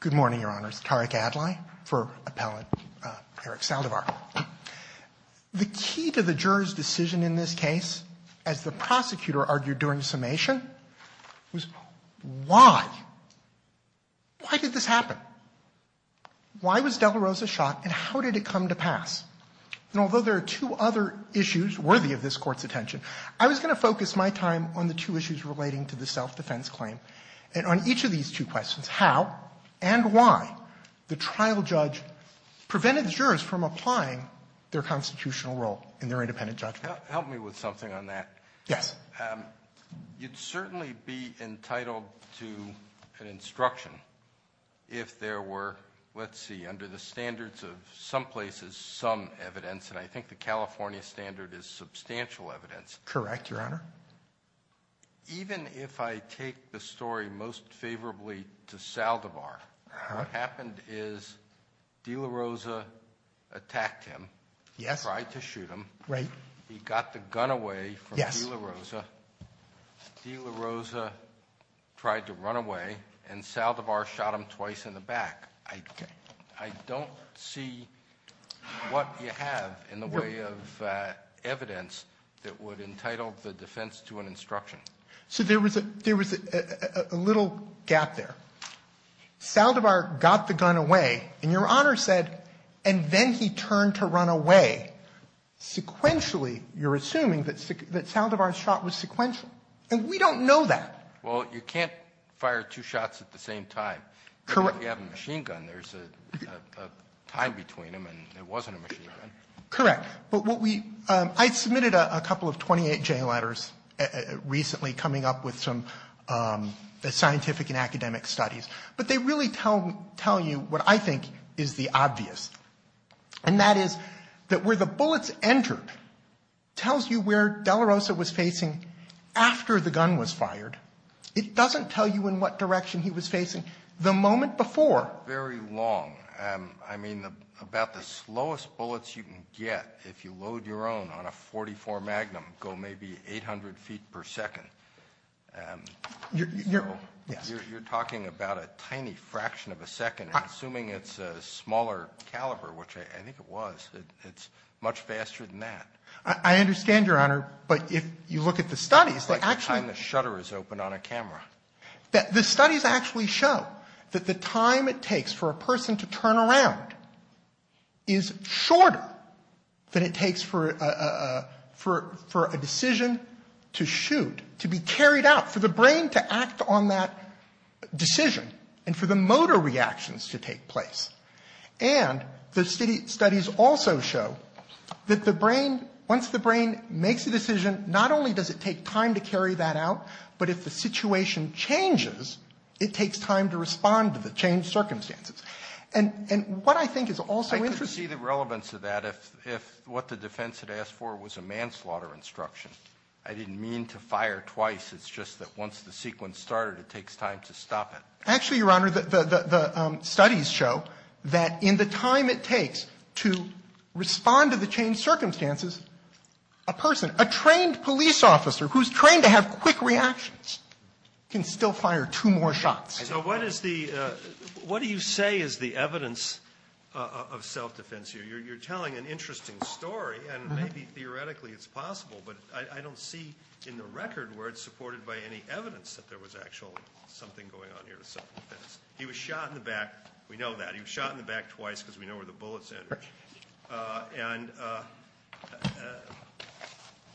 Good morning, Your Honors. Tariq Adlai for Appellant Eric Saldivar. The key to the juror's decision in this case, as the prosecutor argued during summation, was why? Why did this happen? Why was De La Rosa shot, and how did it come to pass? And although there are two other issues worthy of this Court's attention, I was going to focus my time on the two issues relating to the self-defense claim, and on each of these two questions, how and why the trial judge prevented the jurors from applying their constitutional role in their independent judgment. Alito Help me with something on that. Sotomayor Yes. Alito You'd certainly be entitled to an instruction if there were, let's see, under the standards of some places, some evidence, and I think the California standard is substantial evidence. Sotomayor Correct, Your Honor. Alito Even if I take the story most favorably to Saldivar, what happened is De La Rosa attacked him, tried to shoot him. Sotomayor Right. Alito He got the gun away from De La Rosa. Sotomayor Yes. Alito De La Rosa tried to run away, and Saldivar shot him twice in the back. I don't see what you have in the way of evidence that would entitle the defense to an instruction. Sotomayor So there was a little gap there. Saldivar got the gun away, and Your Honor said, and then he turned to run away. Sequentially, you're assuming that Saldivar's shot was sequential, and we don't know that. Alito Well, you can't fire two shots at the same time. Sotomayor Correct. Alito There's a time between them, and it wasn't a machine gun. Sotomayor Correct. But what we – I submitted a couple of 28-J letters recently coming up with some scientific and academic studies, but they really tell you what I think is the obvious, and that is that where the bullets entered tells you where De La Rosa was facing after the gun was fired. It doesn't tell you in what direction he was facing the moment before. Alito It's not very long. I mean, about the slowest bullets you can get, if you load your own on a .44 Magnum, go maybe 800 feet per second. So you're talking about a tiny fraction of a second, and assuming it's a smaller caliber, which I think it was, it's much faster than that. Sotomayor I understand, Your Honor, but if you look at the studies, they actually Alito It's like the time the shutter is open on a camera. The studies actually show that the time it takes for a person to turn around is shorter than it takes for a decision to shoot to be carried out, for the brain to act on that decision, and for the motor reactions to take place. And the studies also show that the brain, once the brain makes a decision, not only does it take time to carry that out, but if the situation changes, it takes time to respond to the changed circumstances. And what I think is also interesting Alito I could see the relevance of that if what the defense had asked for was a manslaughter instruction. I didn't mean to fire twice, it's just that once the sequence started, it takes time to stop it. Sotomayor Actually, Your Honor, the studies show that in the time it takes to respond to the changed circumstances, a person, a trained police officer who's trained to have quick reactions, can still fire two more shots. Alito So what is the, what do you say is the evidence of self-defense here? You're telling an interesting story, and maybe theoretically it's possible, but I don't see in the record where it's supported by any evidence that there was actually something going on here with self-defense. He was shot in the back. We know that. He was shot in the back twice because we know where the bullets entered. And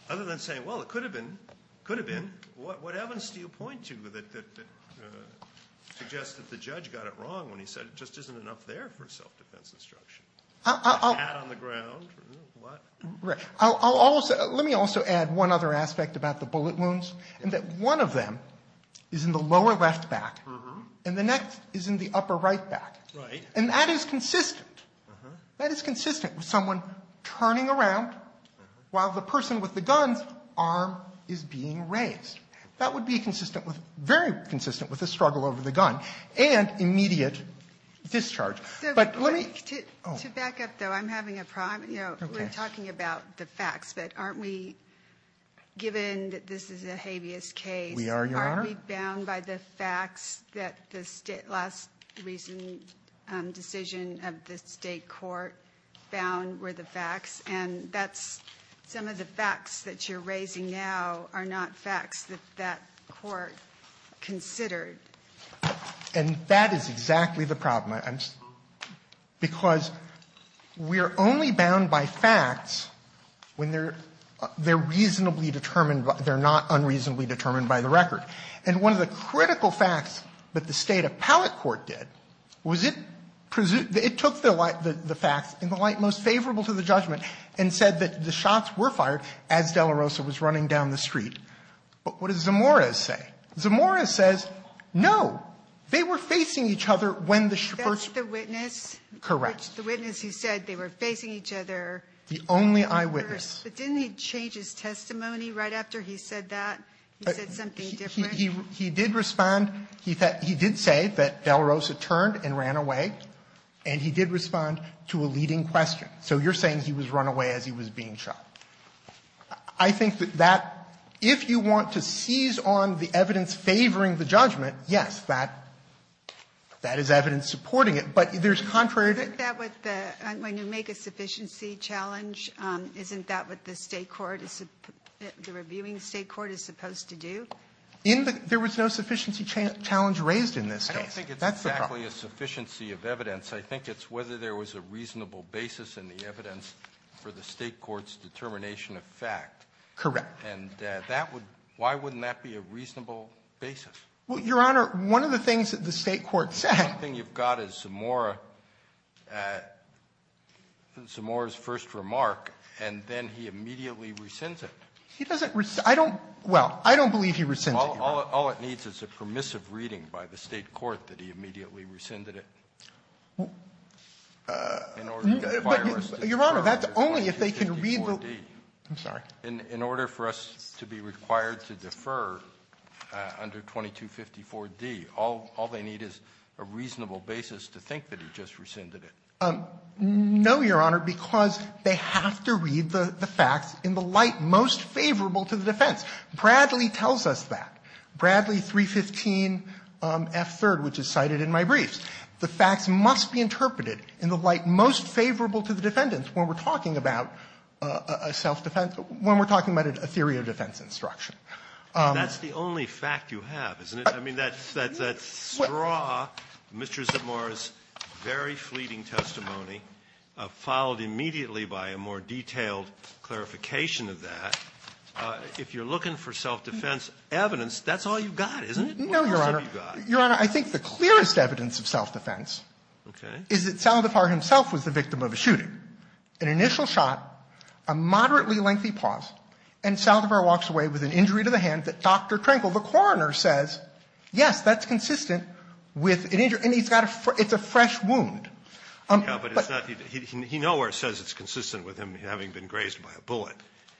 other than saying, well, it could have been, could have been, what evidence do you point to that suggests that the judge got it wrong when he said it just isn't enough there for self-defense instruction? A bat on the ground, what? Sotomayor Let me also add one other aspect about the bullet wounds, and that one of them is in the lower left back, and the next is in the upper right back. And that is consistent, that is consistent with someone turning around while the person with the gun's arm is being raised. That would be consistent with, very consistent with the struggle over the gun and immediate But let me Oh. Ginsburg To back up, though, I'm having a problem. You know, we're talking about the facts, but aren't we, given that this is a habeas decision of the State court, bound were the facts, and that's, some of the facts that you're raising now are not facts that that court considered. And that is exactly the problem. I'm, because we're only bound by facts when they're, they're reasonably determined, they're not unreasonably determined by the record. And one of the critical facts that the State appellate court did, was it, it took the facts in the light most favorable to the judgment, and said that the shots were fired as de la Rosa was running down the street. But what does Zamora say? Zamora says, no, they were facing each other when the shepherds That's the witness? Correct. The witness who said they were facing each other. The only eyewitness. But didn't he change his testimony right after he said that? He said something different? He did respond, he did say that de la Rosa turned and ran away, and he did respond to a leading question. So you're saying he was run away as he was being shot. I think that if you want to seize on the evidence favoring the judgment, yes, that is evidence supporting it, but there's contrary to that. Isn't that what the, when you make a sufficiency challenge, isn't that what the State court is supposed to do? In the, there was no sufficiency challenge raised in this case. I don't think it's exactly a sufficiency of evidence. I think it's whether there was a reasonable basis in the evidence for the State court's determination of fact. Correct. And that would, why wouldn't that be a reasonable basis? Well, Your Honor, one of the things that the State court said. The only thing you've got is Zamora, Zamora's first remark, and then he immediately rescinds it. He doesn't, I don't, well, I don't believe he rescinded it, Your Honor. All it needs is a permissive reading by the State court that he immediately rescinded it. In order to require us to defer under 2254d. I'm sorry. In order for us to be required to defer under 2254d, all they need is a reasonable basis to think that he just rescinded it. No, Your Honor, because they have to read the facts in the light most favorable to the defense. Bradley tells us that. Bradley 315f3rd, which is cited in my briefs. The facts must be interpreted in the light most favorable to the defendants when we're talking about a self-defense, when we're talking about a theory of defense instruction. That's the only fact you have, isn't it? I mean, that's straw Mr. Zimora's very fleeting testimony, followed immediately by a more detailed clarification of that. If you're looking for self-defense evidence, that's all you've got, isn't it? What else have you got? No, Your Honor. Your Honor, I think the clearest evidence of self-defense is that Saldivar himself was the victim of a shooting. An initial shot, a moderately lengthy pause, and Saldivar walks away with an injury to the hand that Dr. Krenkel, the coroner, says, yes, that's consistent with an injury. And he's got a fresh – it's a fresh wound. But it's not – he nowhere says it's consistent with him having been grazed by a bullet.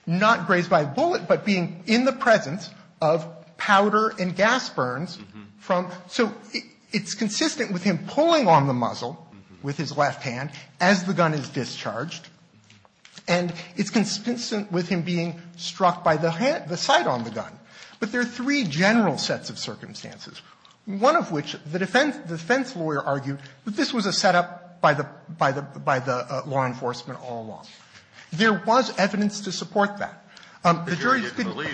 Not grazed by a bullet, but being in the presence of powder and gas burns from – so it's consistent with him pulling on the muzzle with his left hand as the gun is discharged, and it's consistent with him being struck by the hand – the sight on the gun. But there are three general sets of circumstances, one of which the defense lawyer argued that this was a setup by the – by the law enforcement all along. There was evidence to support that. The jury's been – Kennedy,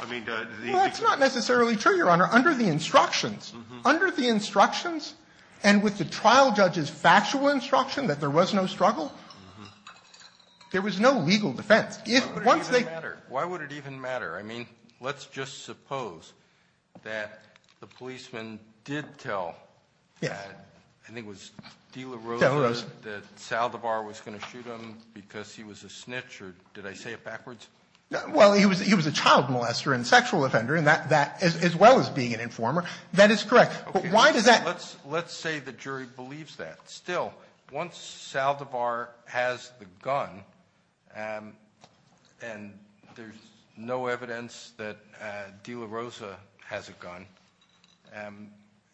I mean, the – Well, that's not necessarily true, Your Honor. Under the instructions – Mm-hmm. Under the instructions and with the trial judge's factual instruction that there was no struggle, there was no legal defense. If – once they – Why would it even matter? I mean, let's just suppose that the policeman did tell – Yes. I think it was De La Rosa that Saldivar was going to shoot him because he was a snitch, or – did I say it backwards? Well, he was a child molester and sexual offender, and that – as well as being an informer. That is correct. But why does that – Let's say the jury believes that. Still, once Saldivar has the gun, and there's no evidence that De La Rosa has a gun,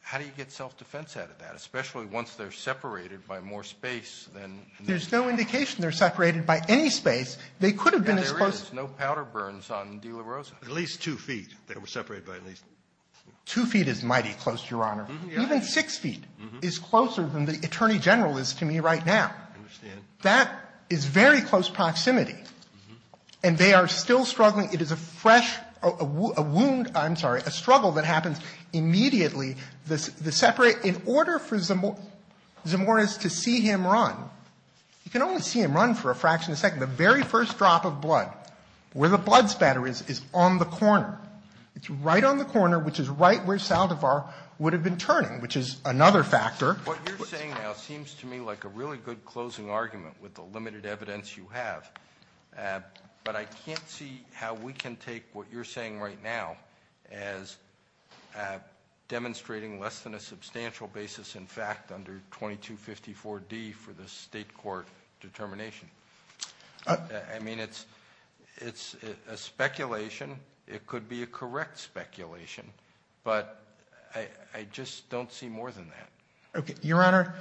how do you get self-defense out of that, especially once they're separated by more space than – There's no indication they're separated by any space. They could have been as close – There is no powder burns on De La Rosa. At least two feet, they were separated by at least – Two feet is mighty close, Your Honor. Mm-hmm. It's closer than the Attorney General is to me right now. I understand. That is very close proximity. And they are still struggling. It is a fresh – a wound – I'm sorry, a struggle that happens immediately. The separate – in order for Zamora's to see him run, you can only see him run for a fraction of a second. The very first drop of blood, where the blood spatter is, is on the corner. It's right on the corner, which is right where Saldivar would have been turning, which is another factor. What you're saying now seems to me like a really good closing argument with the limited evidence you have. But I can't see how we can take what you're saying right now as demonstrating less than a substantial basis in fact under 2254D for the state court determination. I mean, it's a speculation. It could be a correct speculation. But I just don't see more than that. Okay. Your Honor,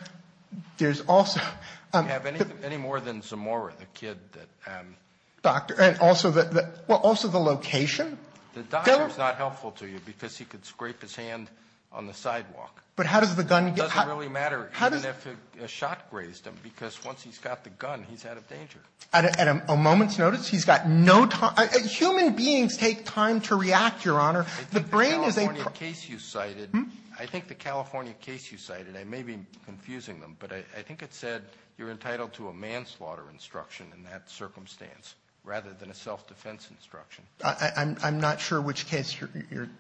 there's also – You have any more than Zamora, the kid that – Doctor – and also the – well, also the location. The doctor is not helpful to you because he could scrape his hand on the sidewalk. But how does the gun get – It doesn't really matter even if a shot grazed him because once he's got the gun, he's out of danger. At a moment's notice, he's got no – human beings take time to react, Your Honor. The brain is a – I think the California case you cited – Hmm? I think the California case you cited, I may be confusing them, but I think it said you're entitled to a manslaughter instruction in that circumstance rather than a self-defense instruction. I'm not sure which case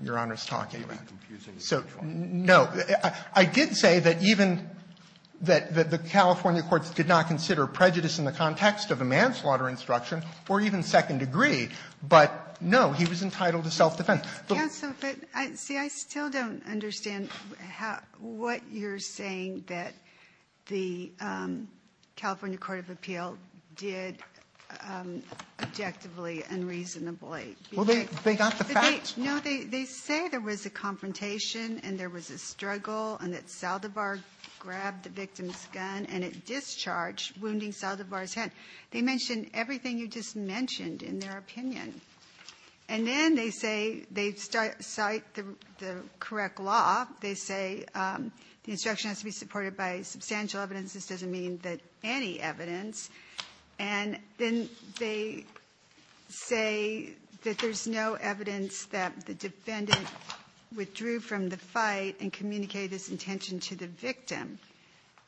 Your Honor is talking about. So, no. I did say that even that the California courts did not consider prejudice in the context of a manslaughter instruction or even second degree. But, no, he was entitled to self-defense. Counsel, but, see, I still don't understand how – what you're saying that the California Court of Appeal did objectively and reasonably. Well, they got the facts. No, they say there was a confrontation and there was a struggle and that Saldivar grabbed the victim's gun and it discharged, wounding Saldivar's hand. They mention everything you just mentioned in their opinion. And then they say – they cite the correct law. They say the instruction has to be supported by substantial evidence. This doesn't mean that any evidence. And then they say that there's no evidence that the defendant withdrew from the fight and communicated this intention to the victim.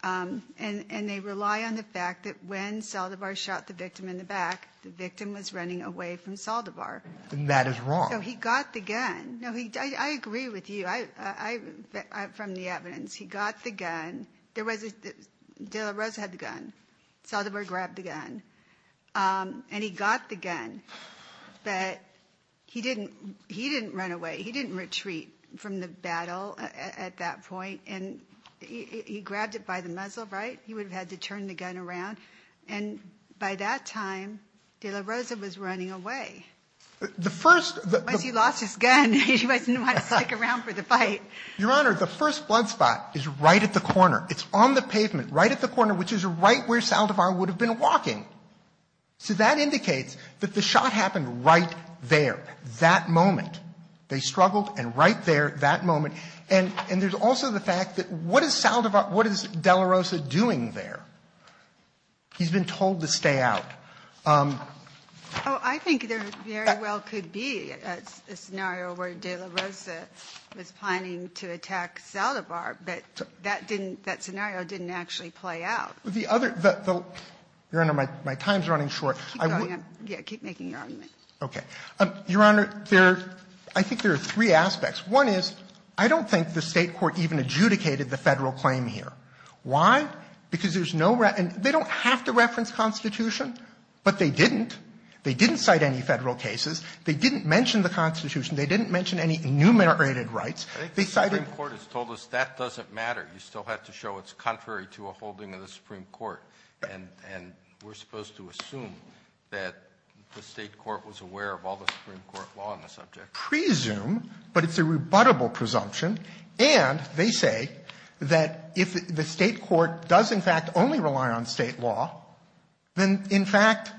And they rely on the fact that when Saldivar shot the victim in the back, the victim was running away from Saldivar. And that is wrong. So he got the gun. No, I agree with you. From the evidence, he got the gun. There was – de la Rosa had the gun. Saldivar grabbed the gun. And he got the gun. But he didn't run away. He didn't retreat from the battle at that point. And he grabbed it by the muzzle, right? He would have had to turn the gun around. And by that time, de la Rosa was running away. The first – Once he lost his gun, he wasn't going to stick around for the fight. Your Honor, the first blood spot is right at the corner. It's on the pavement, right at the corner, which is right where Saldivar would have been walking. So that indicates that the shot happened right there, that moment. They struggled, and right there, that moment. And there's also the fact that what is Saldivar – what is de la Rosa doing there? He's been told to stay out. Oh, I think there very well could be a scenario where de la Rosa was planning to attack Saldivar, but that didn't – that scenario didn't actually play out. The other – Your Honor, my time's running short. Keep going. Yeah, keep making your argument. Okay. Your Honor, there – I think there are three aspects. One is, I don't think the State court even adjudicated the Federal claim here. Why? Because there's no – and they don't have to reference Constitution, but they didn't. They didn't cite any Federal cases. They didn't mention the Constitution. They didn't mention any enumerated rights. They cited – I think the Supreme Court has told us that doesn't matter. You still have to show it's contrary to a holding of the Supreme Court. And we're supposed to assume that the State court was aware of all the Supreme Court law on the subject. Presume, but it's a rebuttable presumption. And they say that if the State court does, in fact, only rely on State law, then, in fact,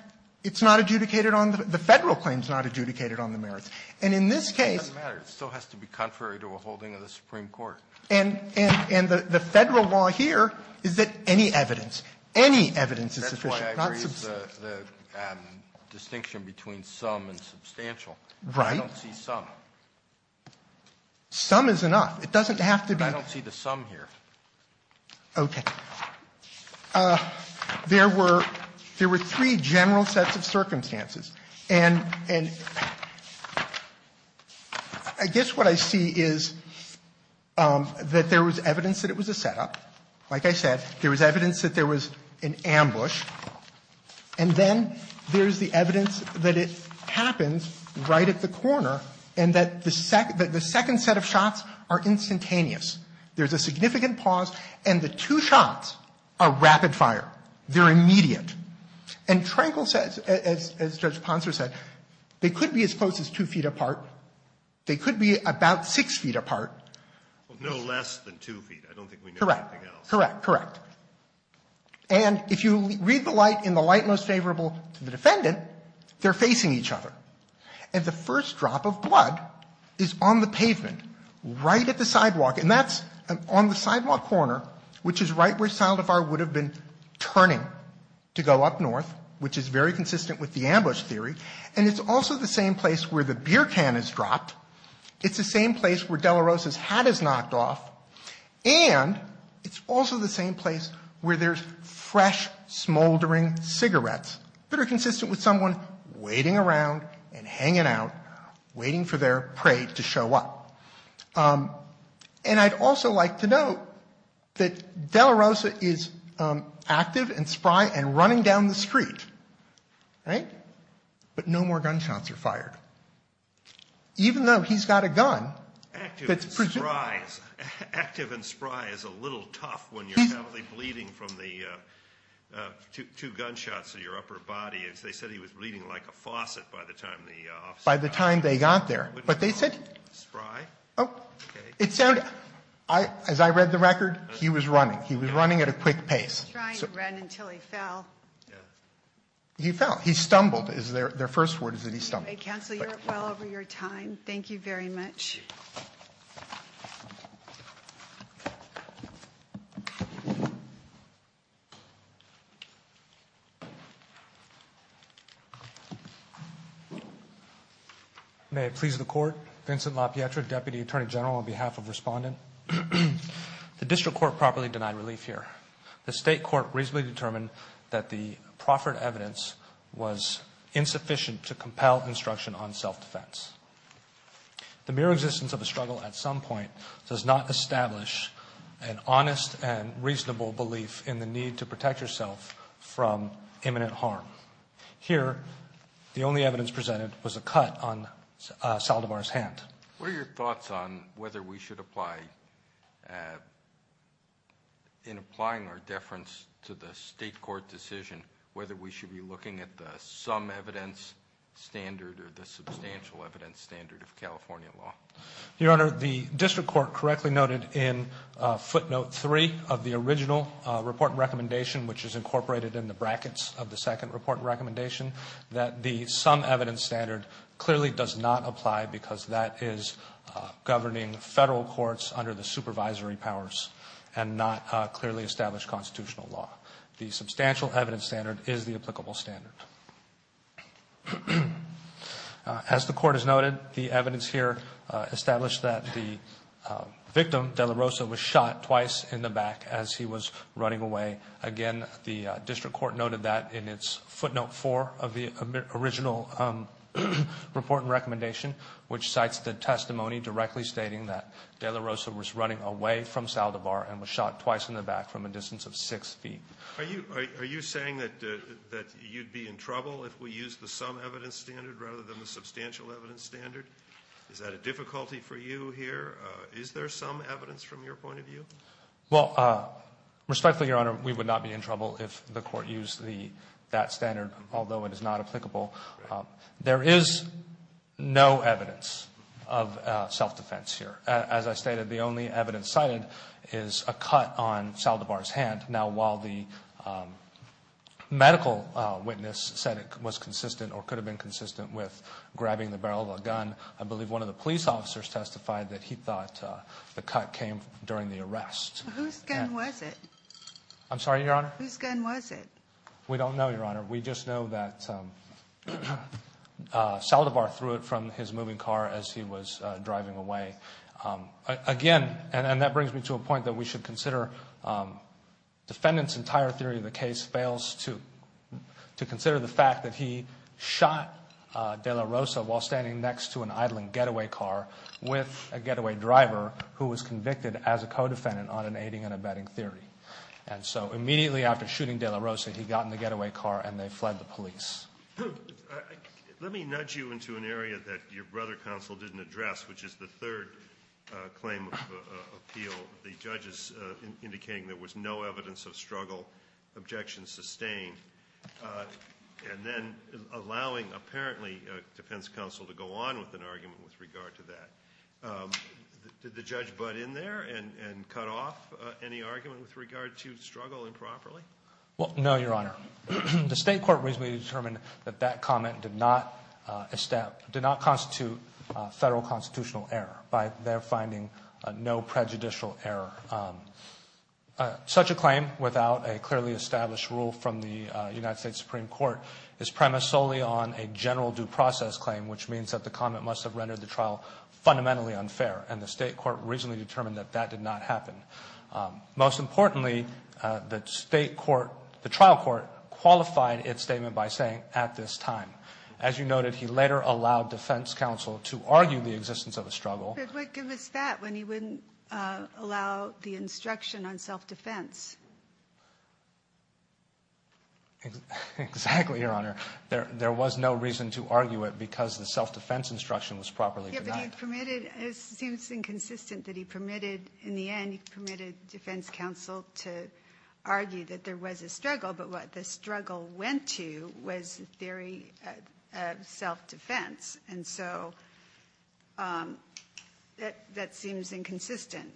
it's not adjudicated on the – the Federal claim's not adjudicated on the merits. And in this case – It doesn't matter. It still has to be contrary to a holding of the Supreme Court. And – and the Federal law here is that any evidence, any evidence is sufficient. That's why I raised the distinction between some and substantial. Right. I don't see some. Some is enough. It doesn't have to be – I don't see the some here. Okay. There were – there were three general sets of circumstances. And – and I guess what I see is that there was evidence that it was a setup. Like I said, there was evidence that there was an ambush. And then there's the evidence that it happens right at the corner and that the second – that the second set of shots are instantaneous. There's a significant pause, and the two shots are rapid fire. They're immediate. And Trenkle says, as Judge Ponser said, they could be as close as two feet apart. They could be about six feet apart. Well, no less than two feet. I don't think we know anything else. Correct. Correct. And if you read the light in the light most favorable to the defendant, they're facing each other. And the first drop of blood is on the pavement, right at the sidewalk. And that's on the sidewalk corner, which is right where Saldivar would have been turning to go up north, which is very consistent with the ambush theory. And it's also the same place where the beer can is dropped. It's the same place where de la Rosa's hat is knocked off. And it's also the same place where there's fresh, smoldering cigarettes that are consistent with someone waiting around and hanging out, waiting for their prey to show up. And I'd also like to note that de la Rosa is active and spry and running down the street, right? But no more gunshots are fired. Even though he's got a gun. Active and spry is a little tough when you're heavily bleeding from the two gunshots in your upper body. As they said, he was bleeding like a faucet by the time the officer got there. By the time they got there. But they said. Spry? Oh, it sounded, as I read the record, he was running. He was running at a quick pace. He was trying to run until he fell. He fell. He stumbled is their first word is that he stumbled. Counselor, you're well over your time. Thank you very much. May it please the court. Vincent LaPietra, Deputy Attorney General, on behalf of respondent. The district court properly denied relief here. The state court reasonably determined that the proffered evidence was insufficient to on self-defense. The mere existence of a struggle at some point does not establish an honest and reasonable belief in the need to protect yourself from imminent harm. Here, the only evidence presented was a cut on Saldivar's hand. What are your thoughts on whether we should apply? In applying our deference to the state court decision, whether we should be looking at the evidence standard or the substantial evidence standard of California law. Your Honor, the district court correctly noted in footnote three of the original report recommendation, which is incorporated in the brackets of the second report recommendation, that the some evidence standard clearly does not apply because that is governing federal courts under the supervisory powers and not clearly established constitutional law. The substantial evidence standard is the applicable standard. As the court has noted, the evidence here established that the victim, De La Rosa, was shot twice in the back as he was running away. Again, the district court noted that in its footnote four of the original report recommendation, which cites the testimony directly stating that De La Rosa was running away from Saldivar and was shot twice in the back from a distance of six feet. Are you saying that you'd be in trouble if we used the some evidence standard rather than the substantial evidence standard? Is that a difficulty for you here? Is there some evidence from your point of view? Well, respectfully, Your Honor, we would not be in trouble if the court used that standard, although it is not applicable. There is no evidence of self-defense here. As I stated, the only evidence cited is a cut on Saldivar's hand. Now, while the medical witness said it was consistent or could have been consistent with grabbing the barrel of a gun, I believe one of the police officers testified that he thought the cut came during the arrest. Whose gun was it? I'm sorry, Your Honor? Whose gun was it? We don't know, Your Honor. We just know that Saldivar threw it from his moving car as he was driving away. Again, and that brings me to a point that we should consider. Defendant's entire theory of the case fails to consider the fact that he shot De La Rosa while standing next to an idling getaway car with a getaway driver who was convicted as a co-defendant on an aiding and abetting theory. And so immediately after shooting De La Rosa, he got in the getaway car and they fled the police. Let me nudge you into an area that your brother counsel didn't address, which is the claim of appeal. The judges indicating there was no evidence of struggle, objections sustained, and then allowing, apparently, defense counsel to go on with an argument with regard to that. Did the judge butt in there and cut off any argument with regard to struggle improperly? Well, no, Your Honor. The state court reasonably determined that that comment did not constitute a federal constitutional error by their finding no prejudicial error. Such a claim without a clearly established rule from the United States Supreme Court is premised solely on a general due process claim, which means that the comment must have rendered the trial fundamentally unfair. And the state court reasonably determined that that did not happen. Most importantly, the trial court qualified its statement by saying, at this time. As you noted, he later allowed defense counsel to argue the existence of a struggle. But what good was that when he wouldn't allow the instruction on self-defense? Exactly, Your Honor. There was no reason to argue it because the self-defense instruction was properly denied. Yeah, but he permitted. It seems inconsistent that he permitted. In the end, he permitted defense counsel to argue that there was a struggle. But what the struggle went to was the theory of self-defense. And so that seems inconsistent.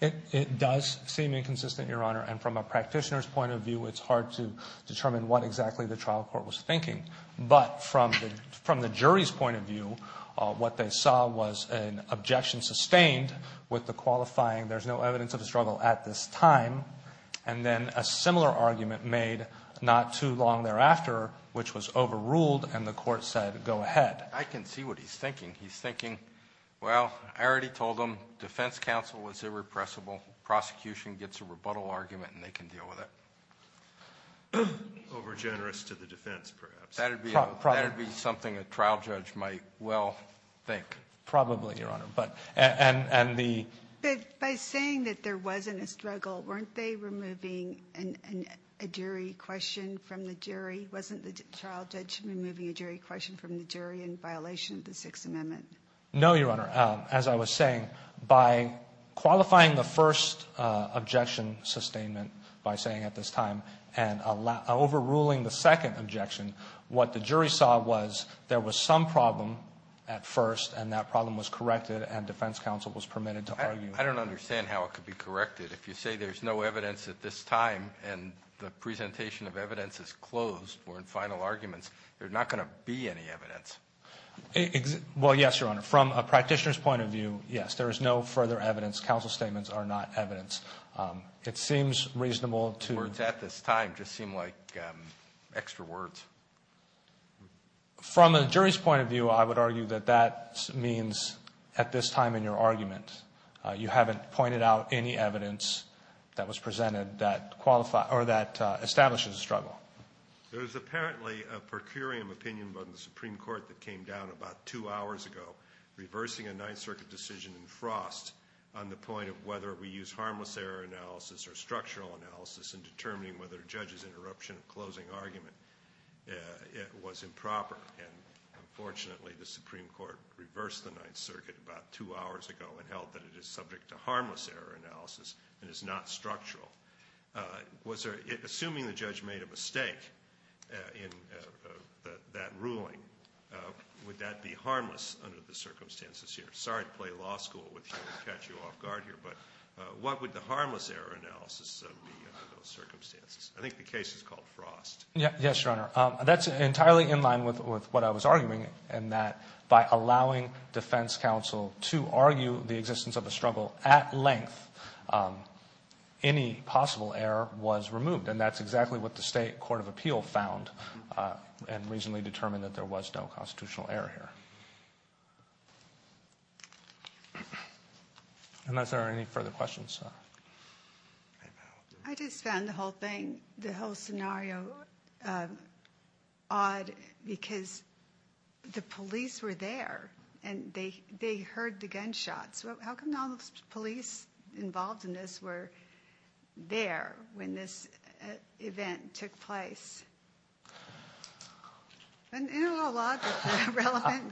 It does seem inconsistent, Your Honor. And from a practitioner's point of view, it's hard to determine what exactly the trial court was thinking. But from the jury's point of view, what they saw was an objection sustained with the qualifying there's no evidence of a struggle at this time. And then a similar argument made not too long thereafter, which was overruled, and the court said, go ahead. I can see what he's thinking. He's thinking, well, I already told them defense counsel was irrepressible. Prosecution gets a rebuttal argument, and they can deal with it. Over generous to the defense, perhaps. Probably, Your Honor. But by saying that there wasn't a struggle, weren't they removing a jury question from the jury? Wasn't the trial judge removing a jury question from the jury in violation of the Sixth Amendment? No, Your Honor. As I was saying, by qualifying the first objection sustainment, by saying at this time, and overruling the second objection, what the jury saw was there was some problem at defense counsel was permitted to argue. I don't understand how it could be corrected. If you say there's no evidence at this time, and the presentation of evidence is closed, or in final arguments, there's not going to be any evidence. Well, yes, Your Honor. From a practitioner's point of view, yes, there is no further evidence. Counsel statements are not evidence. It seems reasonable to... Words at this time just seem like extra words. From a jury's point of view, I would argue that that means at this time in your argument, you haven't pointed out any evidence that was presented that establishes a struggle. There's apparently a per curiam opinion vote in the Supreme Court that came down about two hours ago, reversing a Ninth Circuit decision in Frost on the point of whether we use harmless error analysis or structural analysis in determining whether a judge's interruption of closing argument was improper. And unfortunately, the Supreme Court reversed the Ninth Circuit about two hours ago and held that it is subject to harmless error analysis and is not structural. Assuming the judge made a mistake in that ruling, would that be harmless under the circumstances here? Sorry to play law school with you and catch you off guard here, but what would the harmless error analysis be under those circumstances? I think the case is called Frost. Yes, Your Honor. That's entirely in line with what I was arguing in that by allowing defense counsel to argue the existence of a struggle at length, any possible error was removed. And that's exactly what the State Court of Appeal found and reasonably determined that there was no constitutional error here. Unless there are any further questions. I just found the whole thing, the whole scenario odd because the police were there and they heard the gunshots. How come all the police involved in this were there when this event took place?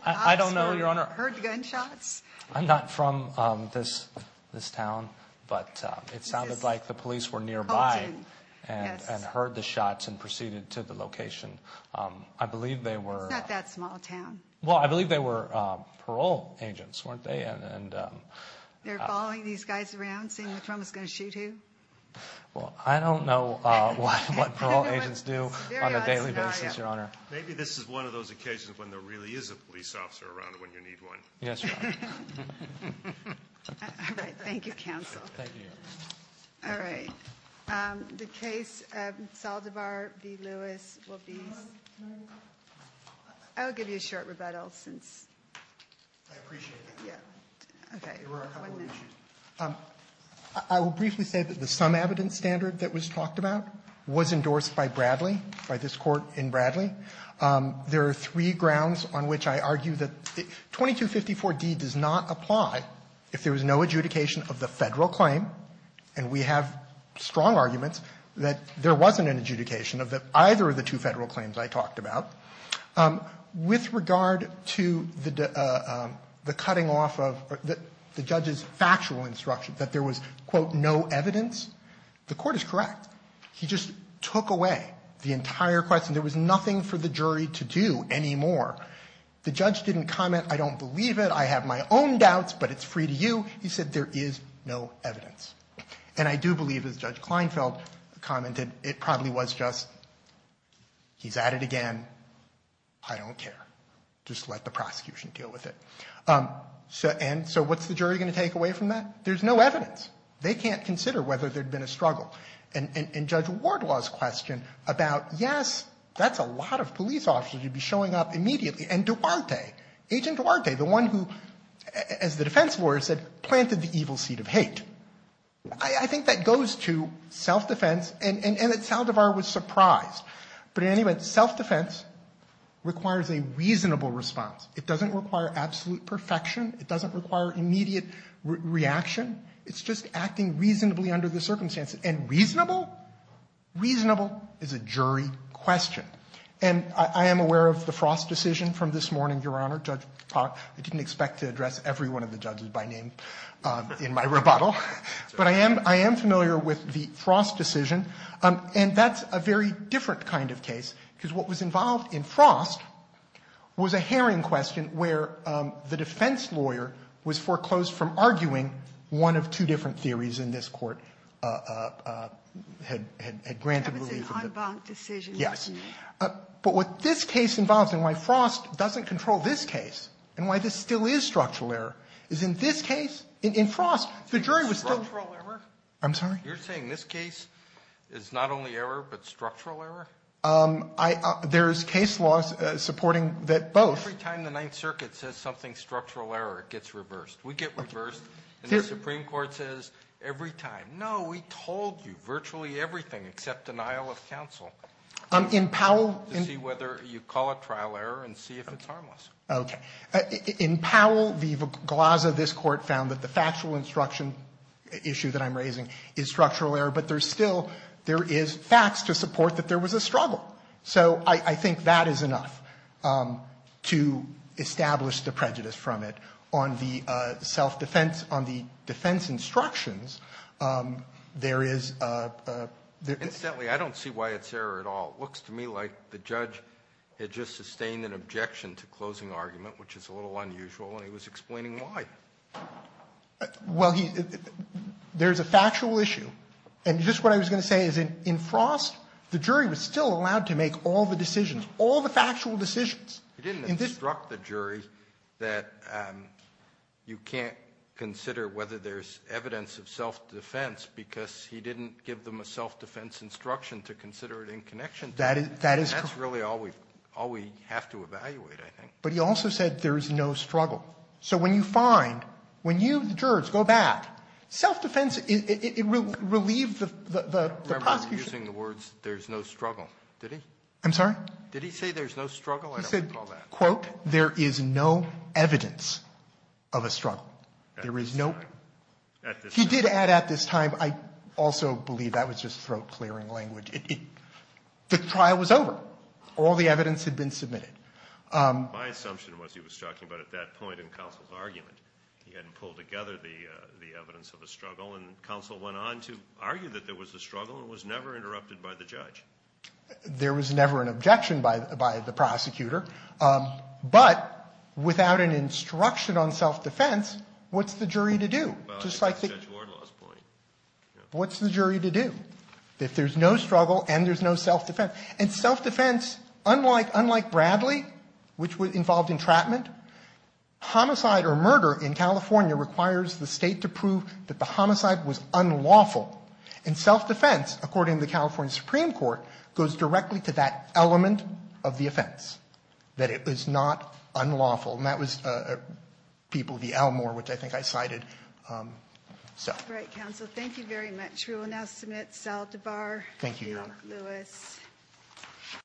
I don't know, Your Honor. Heard gunshots? I'm not from this town, but it sounded like the police were nearby and heard the shots and proceeded to the location. I believe they were... It's not that small a town. Well, I believe they were parole agents, weren't they? They're following these guys around, seeing which one was going to shoot who? Well, I don't know what parole agents do on a daily basis, Your Honor. Maybe this is one of those occasions when there really is a police officer around when you need one. Yes, Your Honor. All right. Thank you, counsel. Thank you, Your Honor. All right. The case of Saldivar v. Lewis will be... I'll give you a short rebuttal since... I appreciate that. Yeah. Okay. There were a couple of issues. by Bradley, by this Court in Bradley. There are three grounds on which I argue that 2254d does not apply if there was no adjudication of the Federal claim, and we have strong arguments that there wasn't an adjudication of either of the two Federal claims I talked about. With regard to the cutting off of the judge's factual instruction that there was, quote, no evidence, the Court is correct. He just took away the entire question. There was nothing for the jury to do anymore. The judge didn't comment, I don't believe it, I have my own doubts, but it's free to you. He said there is no evidence. And I do believe, as Judge Kleinfeld commented, it probably was just, he's at it again, I don't care. Just let the prosecution deal with it. And so what's the jury going to take away from that? There's no evidence. They can't consider whether there'd been a struggle. And Judge Wardlaw's question about, yes, that's a lot of police officers. You'd be showing up immediately. And Duarte, Agent Duarte, the one who, as the defense lawyer said, planted the evil seed of hate. I think that goes to self-defense, and that Saldivar was surprised. But in any event, self-defense requires a reasonable response. It doesn't require absolute perfection. It doesn't require immediate reaction. It's just acting reasonably under the circumstances. And reasonable? Reasonable is a jury question. And I am aware of the Frost decision from this morning, Your Honor. I didn't expect to address every one of the judges by name in my rebuttal. But I am familiar with the Frost decision. And that's a very different kind of case, because what was involved in Frost was a herring question where the defense lawyer was foreclosed from arguing one of two different cases that the Supreme Court had granted relief of the other. Yes. But what this case involves, and why Frost doesn't control this case, and why this still is structural error, is in this case, in Frost, the jury was still. I'm sorry? You're saying this case is not only error, but structural error? There is case law supporting that both. Every time the Ninth Circuit says something structural error, it gets reversed. We get reversed. And the Supreme Court says, every time. No, we told you virtually everything except denial of counsel. In Powell. To see whether you call it trial error and see if it's harmless. Okay. In Powell v. Glaza, this Court found that the factual instruction issue that I'm raising is structural error. So I think that is enough to establish the prejudice from it. On the self-defense, on the defense instructions, there is a, there is. Incidentally, I don't see why it's error at all. It looks to me like the judge had just sustained an objection to closing argument, which is a little unusual, and he was explaining why. Well, there's a factual issue. And just what I was going to say is in Frost, the jury was still allowed to make all the decisions, all the factual decisions. He didn't instruct the jury that you can't consider whether there's evidence of self-defense because he didn't give them a self-defense instruction to consider it in connection to it. That is correct. And that's really all we have to evaluate, I think. But he also said there is no struggle. So when you find, when you, the jurors, go back, self-defense, it relieved the prosecution. I remember him using the words, there's no struggle. Did he? I'm sorry? Did he say there's no struggle? I don't recall that. He said, quote, there is no evidence of a struggle. There is no. At this time. He did add at this time. I also believe that was just throat-clearing language. The trial was over. All the evidence had been submitted. My assumption was he was talking about at that point in counsel's argument. He hadn't pulled together the evidence of a struggle. And counsel went on to argue that there was a struggle and was never interrupted by the judge. There was never an objection by the prosecutor. But without an instruction on self-defense, what's the jury to do? Well, that's Judge Wardlaw's point. What's the jury to do if there's no struggle and there's no self-defense? And self-defense, unlike Bradley, which involved entrapment, homicide or murder in California requires the State to prove that the homicide was unlawful. And self-defense, according to the California Supreme Court, goes directly to that element of the offense, that it was not unlawful. And that was people of the Elmore, which I think I cited. So. All right, counsel. Thank you very much. We will now submit Sal DeBar. Thank you, Your Honor. Lewis. Thank you.